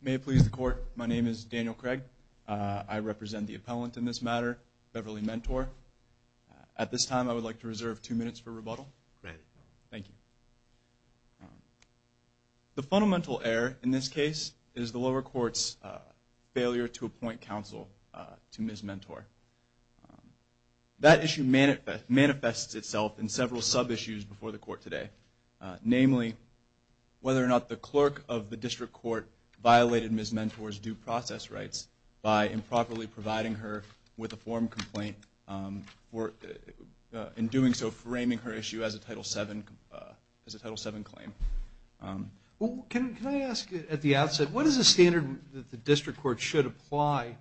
May it please the Court, my name is Daniel Craig. I represent the appellant in this matter, Beverly Mentor. At this time I would like to reserve two minutes for rebuttal. Thank you. The fundamental error in this case is the lower court's failure to appoint counsel to Ms. Mentor. That issue manifests itself in several sub-issues before the Court today. Namely, whether or not the clerk of the District Court violated Ms. Mentor's due process rights by improperly providing her with a form complaint, in doing so framing her issue as a Title VII claim. Can I ask at the outset, what is the standard that the District Court should apply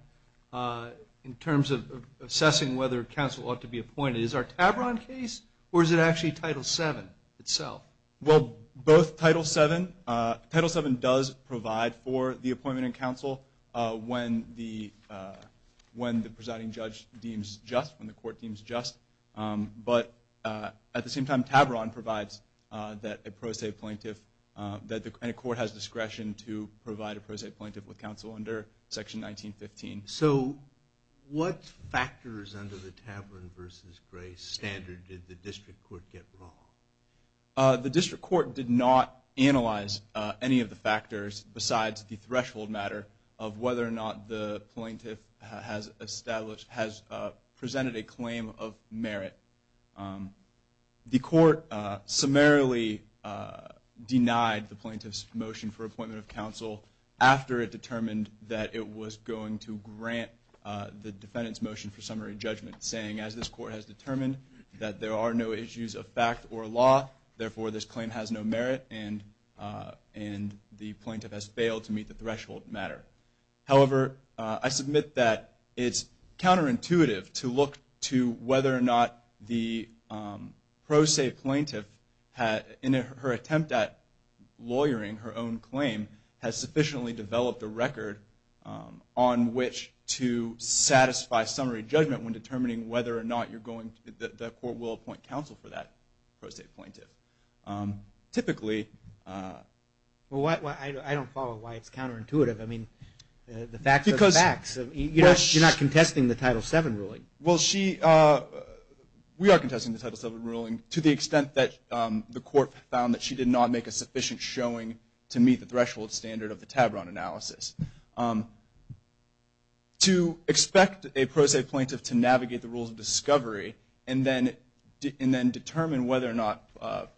in terms of assessing whether counsel ought to be appointed? Is it our Tavron case, or is it actually Title VII itself? Well, both Title VII. Title VII does provide for the appointment in counsel when the presiding judge deems just, when the court deems just. But at the same time, Tavron provides that a pro se plaintiff, that a court has discretion to provide a pro se plaintiff with counsel under Section 1915. So, what factors under the Tavron v. Gray standard did the District Court get wrong? The District Court did not analyze any of the factors besides the threshold matter of whether or not the plaintiff has presented a claim of merit. The Court summarily denied the plaintiff's motion for appointment of counsel after it determined that it was going to grant the defendant's motion for summary judgment, saying, as this Court has determined that there are no issues of fact or law, therefore this claim has no merit and the plaintiff has failed to meet the threshold matter. However, I submit that it's counterintuitive to look to whether or not the pro se plaintiff, in her attempt at lawyering her own claim, has sufficiently developed a record on which to satisfy summary judgment when determining whether or not the court will appoint counsel for that pro se plaintiff. I don't follow why it's counterintuitive. I mean, the facts are the facts. You're not contesting the Title VII ruling. Well, we are contesting the Title VII ruling to the extent that the Court found that she did not make a sufficient showing to meet the threshold standard of the Tavron analysis. To expect a pro se plaintiff to navigate the rules of discovery and then determine whether or not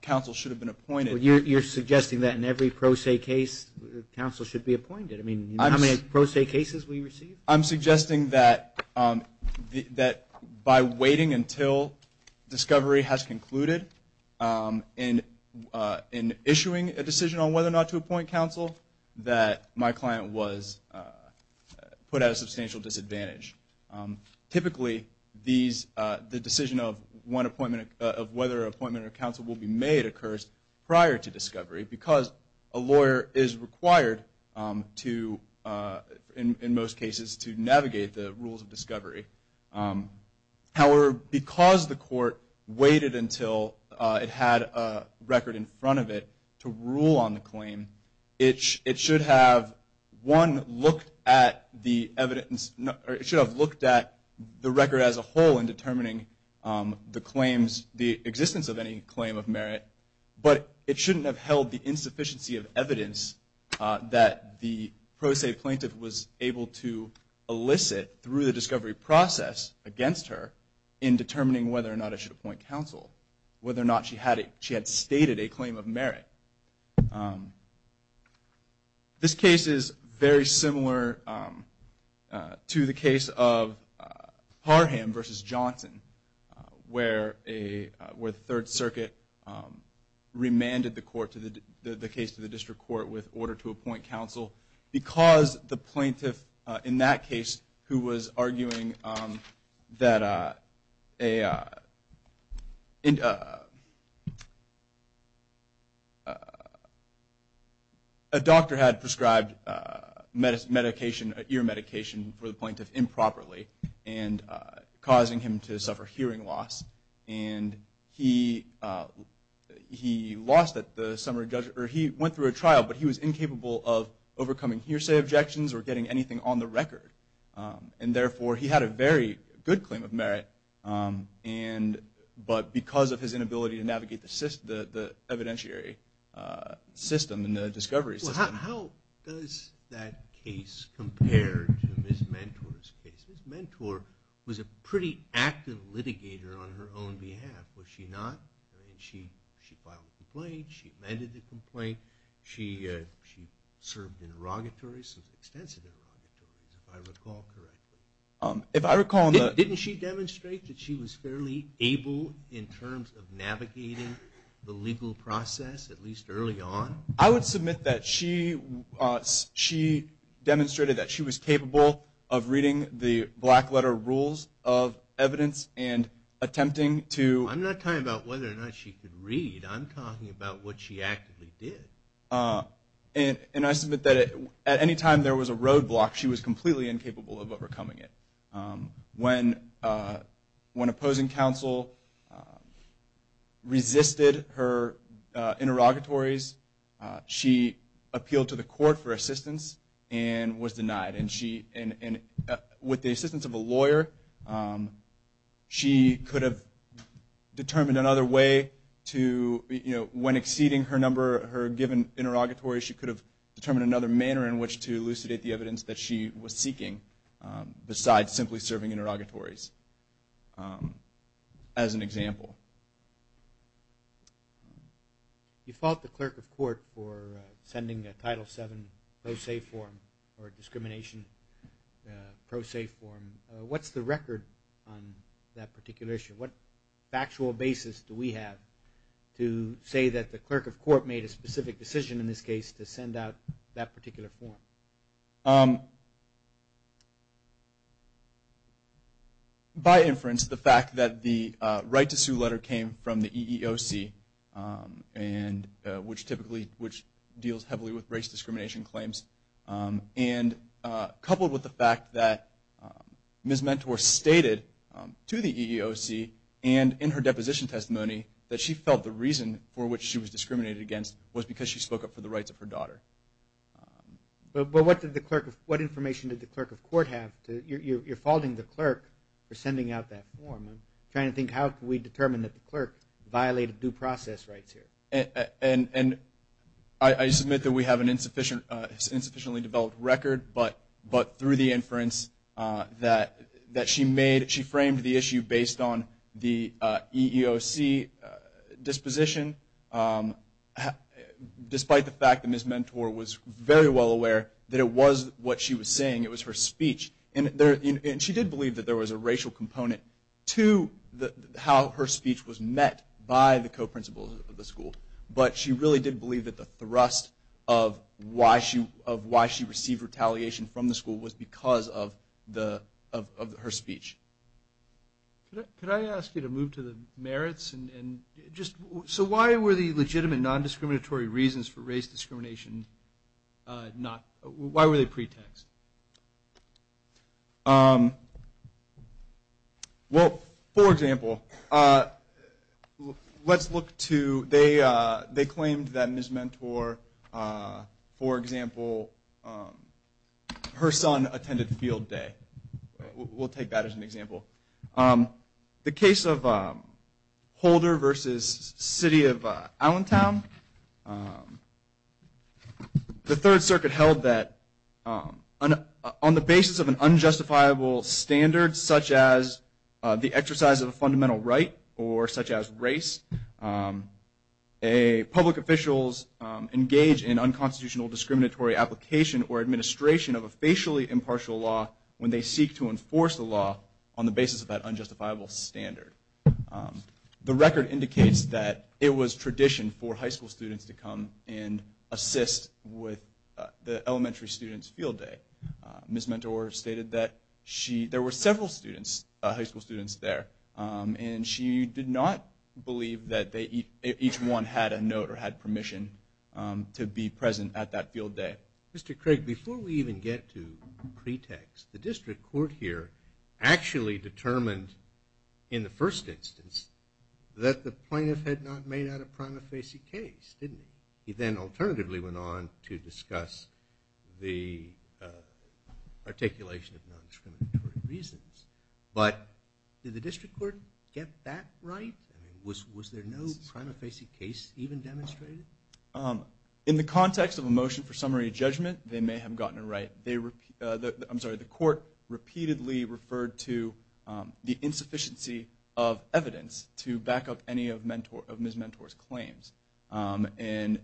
counsel should have been appointed. You're suggesting that in every pro se case, counsel should be appointed. I mean, how many pro se cases will you receive? I'm suggesting that by waiting until discovery has concluded, in issuing a decision on whether or not to appoint counsel, that my client was put at a substantial disadvantage. Typically, the decision of whether an appointment of counsel will be made occurs prior to discovery because a lawyer is required to, in most cases, to navigate the rules of discovery. However, because the Court waited until it had a record in front of it to rule on the claim, it should have, one, looked at the evidence. It should have looked at the record as a whole in determining the claims, the existence of any claim of merit. But it shouldn't have held the insufficiency of evidence that the pro se plaintiff was able to elicit through the discovery process against her in determining whether or not it should appoint counsel, whether or not she had stated a claim of merit. This case is very similar to the case of Parham v. Johnson, where the Third Circuit remanded the case to the District Court with order to appoint counsel because the plaintiff in that case who was arguing that a doctor had prescribed medication, ear medication for the plaintiff improperly and causing him to suffer hearing loss. And he went through a trial, but he was incapable of overcoming hearsay objections or getting anything on the record. And therefore, he had a very good claim of merit, but because of his inability to navigate the evidentiary system and the discovery system. Now, how does that case compare to Ms. Mentor's case? Ms. Mentor was a pretty active litigator on her own behalf, was she not? I mean, she filed a complaint. She amended the complaint. She served in extensive interrogatories, if I recall correctly. Didn't she demonstrate that she was fairly able in terms of navigating the legal process, at least early on? I would submit that she demonstrated that she was capable of reading the black letter rules of evidence and attempting to. I'm not talking about whether or not she could read. I'm talking about what she actively did. And I submit that at any time there was a roadblock, she was completely incapable of overcoming it. When opposing counsel resisted her interrogatories, she appealed to the court for assistance and was denied. And with the assistance of a lawyer, she could have determined another way to, when exceeding her given interrogatory, she could have determined another manner in which to elucidate the evidence that she was seeking besides simply serving interrogatories, as an example. You fault the clerk of court for sending a Title VII pro se form or discrimination pro se form. What's the record on that particular issue? What factual basis do we have to say that the clerk of court made a specific decision in this case to send out that particular form? By inference, the fact that the right to sue letter came from the EEOC, which typically deals heavily with race discrimination claims, and coupled with the fact that Ms. Mentor stated to the EEOC and in her deposition testimony that she felt the reason for which she was discriminated against was because she spoke up for the rights of her daughter. But what information did the clerk of court have? You're faulting the clerk for sending out that form. I'm trying to think how can we determine that the clerk violated due process rights here. And I submit that we have an insufficiently developed record, but through the inference that she made, she framed the issue based on the EEOC disposition, despite the fact that Ms. Mentor was very well aware that it was what she was saying. It was her speech. And she did believe that there was a racial component to how her speech was met by the co-principals of the school. But she really did believe that the thrust of why she received retaliation from the school was because of her speech. Could I ask you to move to the merits? So why were the legitimate non-discriminatory reasons for race discrimination not – why were they pretext? Well, for example, let's look to – they claimed that Ms. Mentor, for example, her son attended field day. We'll take that as an example. The case of Holder versus City of Allentown, the Third Circuit held that on the basis of an unjustifiable standard, such as the exercise of a fundamental right or such as race, public officials engage in unconstitutional discriminatory application or administration of a facially impartial law when they seek to enforce the law on the basis of that unjustifiable standard. The record indicates that it was tradition for high school students to come and assist with the elementary students' field day. Ms. Mentor stated that she – there were several students, high school students there, and she did not believe that each one had a note or had permission to be present at that field day. Mr. Craig, before we even get to pretext, the district court here actually determined in the first instance that the plaintiff had not made out a prima facie case, didn't he? He then alternatively went on to discuss the articulation of non-discriminatory reasons. But did the district court get that right? I mean, was there no prima facie case even demonstrated? In the context of a motion for summary judgment, they may have gotten it right. I'm sorry, the court repeatedly referred to the insufficiency of evidence to back up any of Ms. Mentor's claims and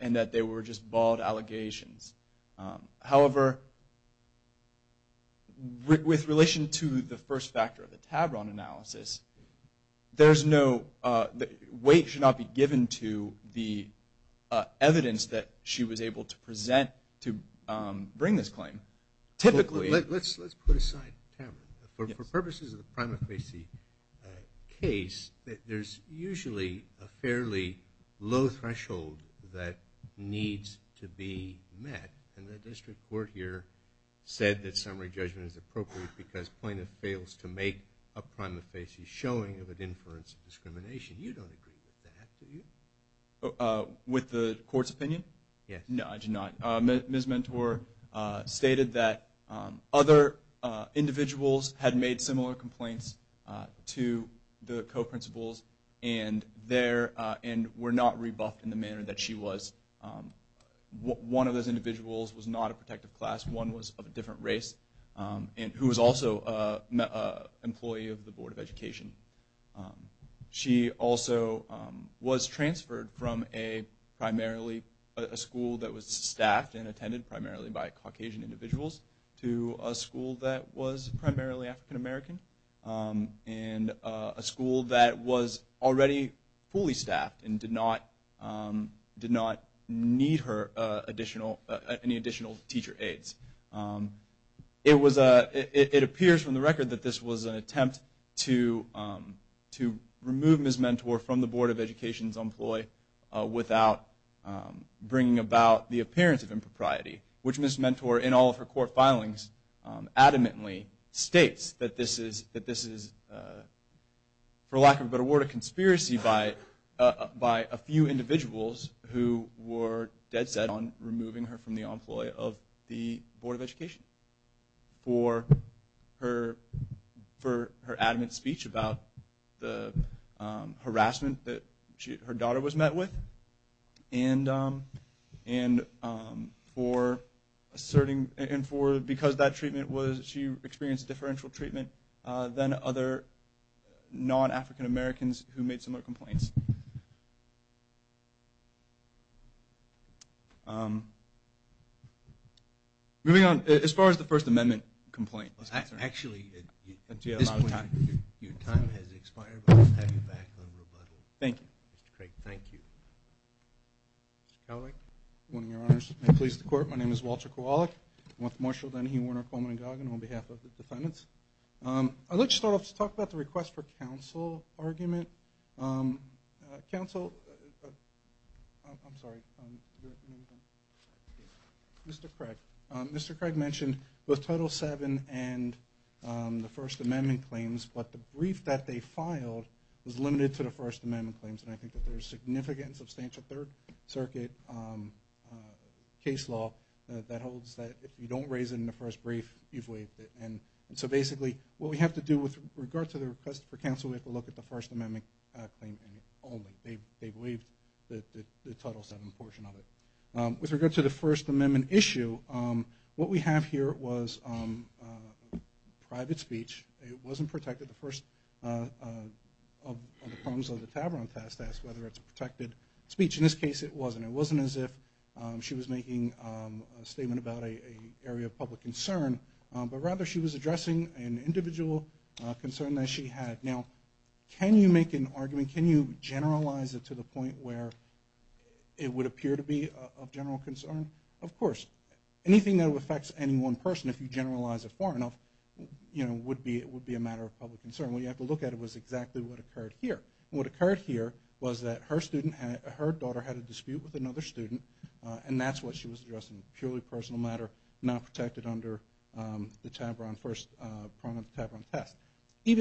that they were just bald allegations. However, with relation to the first factor, the Tavron analysis, there's no – weight should not be given to the evidence that she was able to present to bring this claim. Typically – Let's put aside Tavron. For purposes of the prima facie case, there's usually a fairly low threshold that needs to be met, and the district court here said that summary judgment is appropriate because plaintiff fails to make a prima facie showing of an inference of discrimination. You don't agree with that, do you? With the court's opinion? Yes. No, I do not. Ms. Mentor stated that other individuals had made similar complaints to the co-principals and were not rebuffed in the manner that she was. One of those individuals was not a protective class. One was of a different race and who was also an employee of the Board of Education. She also was transferred from a school that was staffed and attended primarily by Caucasian individuals to a school that was primarily African American and a school that was already fully staffed and did not need any additional teacher aids. It appears from the record that this was an attempt to remove Ms. Mentor from the Board of Education's employ without bringing about the appearance of impropriety, which Ms. Mentor in all of her court filings adamantly states that this is, for lack of a better word, a conspiracy by a few individuals who were dead set on removing her from the employ of the Board of Education for her adamant speech about the harassment that her daughter was met with and for asserting, and because that treatment was, she experienced differential treatment than other non-African Americans who made similar complaints. Moving on, as far as the First Amendment complaint is concerned. Actually, at this point your time has expired, but I'll have you back on rebuttal. Thank you. Mr. Craig, thank you. Mr. Kowalik? Good morning, Your Honors. May it please the Court, my name is Walter Kowalik. I'm with Marshall, Dennehy, Warner, Coleman, and Goggin on behalf of the defendants. I'd like to start off to talk about the request for counsel argument. Counsel, I'm sorry. Mr. Craig. Mr. Craig mentioned both Title VII and the First Amendment claims, but the brief that they filed was limited to the First Amendment claims, and I think that there's significant and substantial Third Circuit case law that holds that if you don't raise it in the first brief, you've waived it. And so basically what we have to do with regard to the request for counsel, we have to look at the First Amendment claim only. They've waived the Title VII portion of it. With regard to the First Amendment issue, what we have here was private speech. It wasn't protected. The first of the problems of the Tavron test asked whether it's protected speech. In this case, it wasn't. It wasn't as if she was making a statement about an area of public concern, but rather she was addressing an individual concern that she had. Now, can you make an argument? Can you generalize it to the point where it would appear to be of general concern? Of course. Anything that affects any one person, if you generalize it far enough, would be a matter of public concern. What you have to look at was exactly what occurred here. What occurred here was that her daughter had a dispute with another student, and that's what she was addressing, a purely personal matter, not protected under the Tavron test.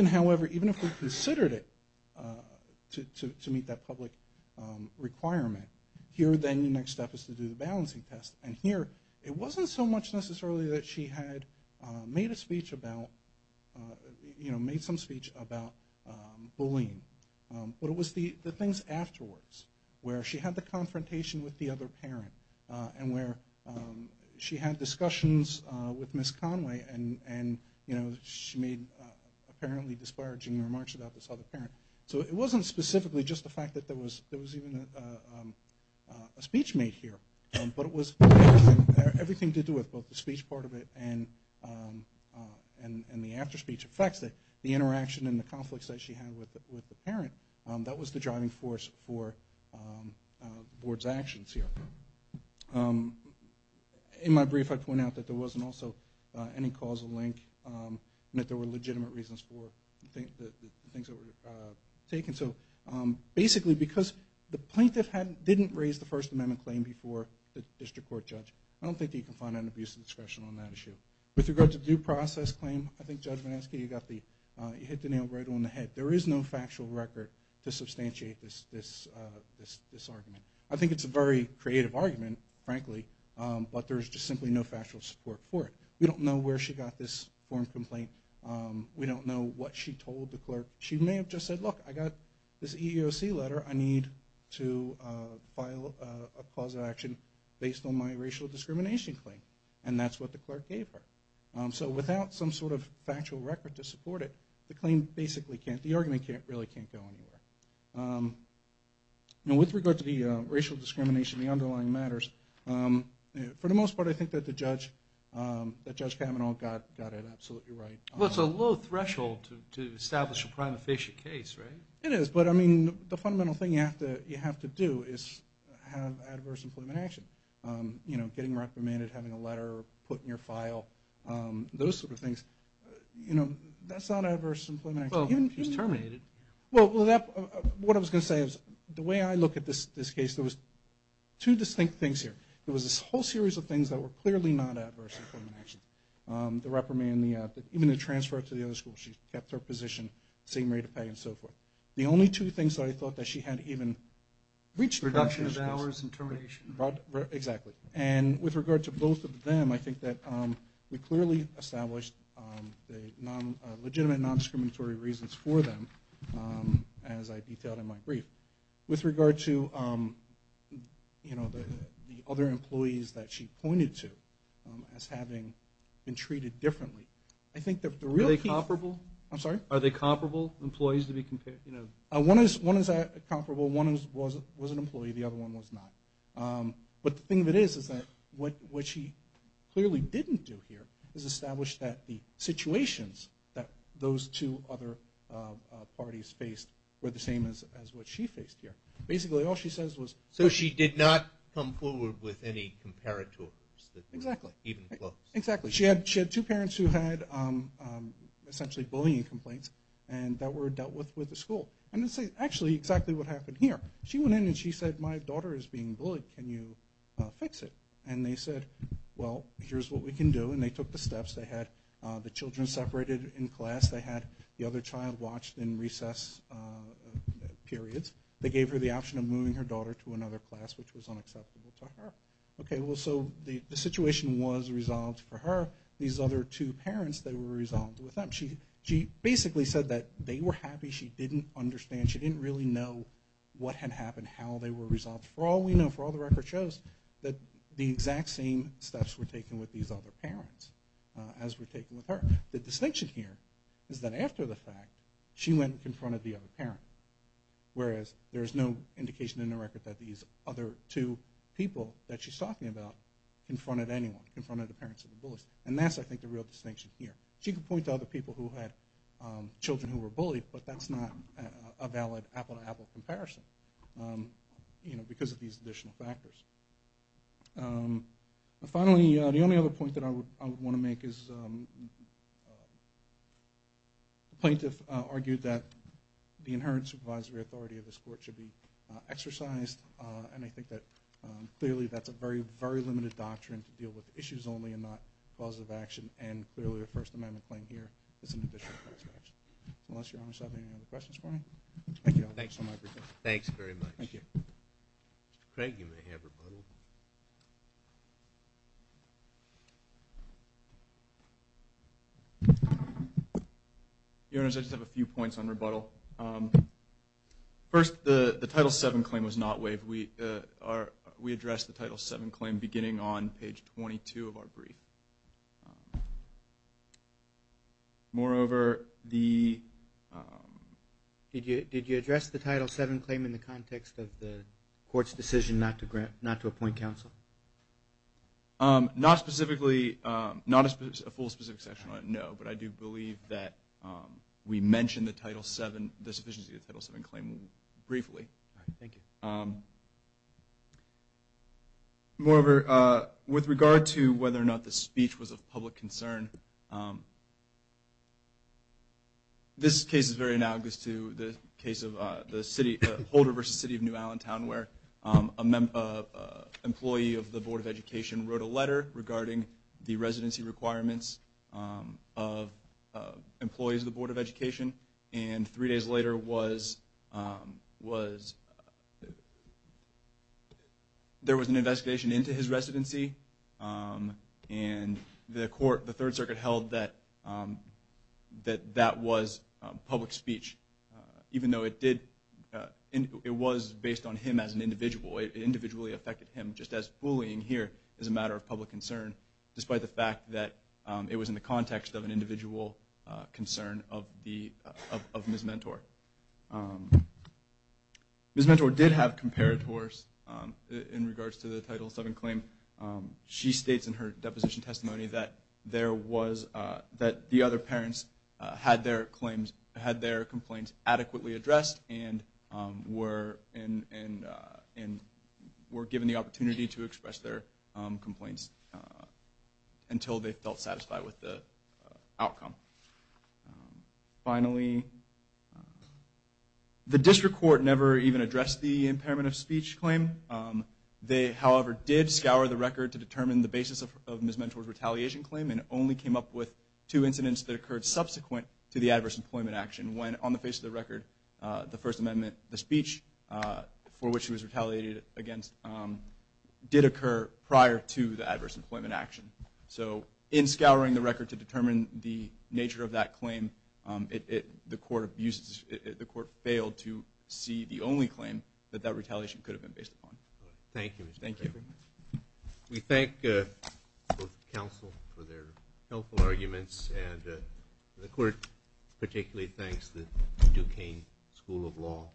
However, even if we considered it to meet that public requirement, here then the next step is to do the balancing test, and here it wasn't so much necessarily that she had made some speech about bullying, but it was the things afterwards where she had the confrontation with the other parent and where she had discussions with Ms. Conway, and she made apparently disparaging remarks about this other parent. So it wasn't specifically just the fact that there was even a speech made here, but it was everything to do with both the speech part of it and the after-speech effects, the interaction and the conflicts that she had with the parent. That was the driving force for the Board's actions here. In my brief, I point out that there wasn't also any causal link, and that there were legitimate reasons for the things that were taken. Basically, because the plaintiff didn't raise the First Amendment claim before the district court judge, I don't think that you can find an abuse of discretion on that issue. With regard to the due process claim, I think Judge Vinesky, you hit the nail right on the head. There is no factual record to substantiate this argument. I think it's a very creative argument, frankly, but there's just simply no factual support for it. We don't know where she got this form complaint. We don't know what she told the clerk. She may have just said, look, I got this EEOC letter. I need to file a cause of action based on my racial discrimination claim. And that's what the clerk gave her. So without some sort of factual record to support it, the argument really can't go anywhere. With regard to the racial discrimination and the underlying matters, for the most part, I think that Judge Kavanaugh got it absolutely right. Well, it's a low threshold to establish a prima facie case, right? It is, but, I mean, the fundamental thing you have to do is have adverse employment action. You know, getting reprimanded, having a letter put in your file, those sort of things. You know, that's not adverse employment action. Well, she was terminated. Well, what I was going to say is the way I look at this case, there was two distinct things here. There was this whole series of things that were clearly not adverse employment actions. The reprimand, even the transfer to the other school. She kept her position, same rate of pay and so forth. The only two things that I thought that she had even reached a position with. Reduction of hours and termination. Exactly. And with regard to both of them, I think that we clearly established the legitimate, non-discriminatory reasons for them, as I detailed in my brief. With regard to, you know, the other employees that she pointed to as having been treated differently, I think that the real key. Are they comparable? I'm sorry? Are they comparable employees to be compared, you know? One is comparable, one was an employee, the other one was not. But the thing that is is that what she clearly didn't do here is establish that the situations that those two other parties faced were the same as what she faced here. Basically, all she says was. So she did not come forward with any comparators that were even close. Exactly. She had two parents who had essentially bullying complaints and that were dealt with with the school. And this is actually exactly what happened here. She went in and she said, my daughter is being bullied. Can you fix it? And they said, well, here's what we can do. And they took the steps. They had the children separated in class. They had the other child watched in recess periods. They gave her the option of moving her daughter to another class, which was unacceptable to her. Okay, well, so the situation was resolved for her. These other two parents, they were resolved with them. She basically said that they were happy. She didn't understand. She didn't really know what had happened, how they were resolved. For all we know, for all the record shows that the exact same steps were taken with these other parents as were taken with her. The distinction here is that after the fact, she went and confronted the other parent, whereas there is no indication in the record that these other two people that she's talking about confronted anyone, confronted the parents of the bullies. And that's, I think, the real distinction here. She could point to other people who had children who were bullied, but that's not a valid apple-to-apple comparison because of these additional factors. Finally, the only other point that I would want to make is the plaintiff argued that the inherent supervisory authority of this court should be exercised. And I think that clearly that's a very, very limited doctrine to deal with issues only and not causative action. And clearly the First Amendment claim here is an additional point of reference. Unless Your Honor has any other questions for me. Thank you all. Thanks for my presentation. Thanks very much. Thank you. Mr. Craig, you may have rebuttal. Your Honors, I just have a few points on rebuttal. First, the Title VII claim was not waived. We addressed the Title VII claim beginning on page 22 of our brief. Moreover, the- Did you address the Title VII claim in the context of the court's decision not to appoint counsel? Not specifically, not a full specific section on it, no. But I do believe that we mentioned the sufficiency of the Title VII claim briefly. All right. Thank you. Moreover, with regard to whether or not the speech was of public concern, this case is very analogous to the case of Holder v. City of New Allentown, where an employee of the Board of Education wrote a letter regarding the residency requirements of employees of the Board of Education. And three days later, there was an investigation into his residency, and the Third Circuit held that that was public speech, even though it was based on him as an individual. It individually affected him, just as bullying here is a matter of public concern, despite the fact that it was in the context of an individual concern of Ms. Mentor. Ms. Mentor did have comparators in regards to the Title VII claim. She states in her deposition testimony that there was- that the other parents had their complaints adequately addressed and were given the opportunity to express their complaints until they felt satisfied with the outcome. Finally, the District Court never even addressed the impairment of speech claim. They, however, did scour the record to determine the basis of Ms. Mentor's retaliation claim and only came up with two incidents that occurred subsequent to the adverse employment action, when on the face of the record, the First Amendment, the speech for which she was retaliated against, did occur prior to the adverse employment action. So in scouring the record to determine the nature of that claim, the Court abused- the Court failed to see the only claim that that retaliation could have been based upon. Thank you, Mr. Chairman. We thank both counsel for their helpful arguments, and the Court particularly thanks the Duquesne School of Law.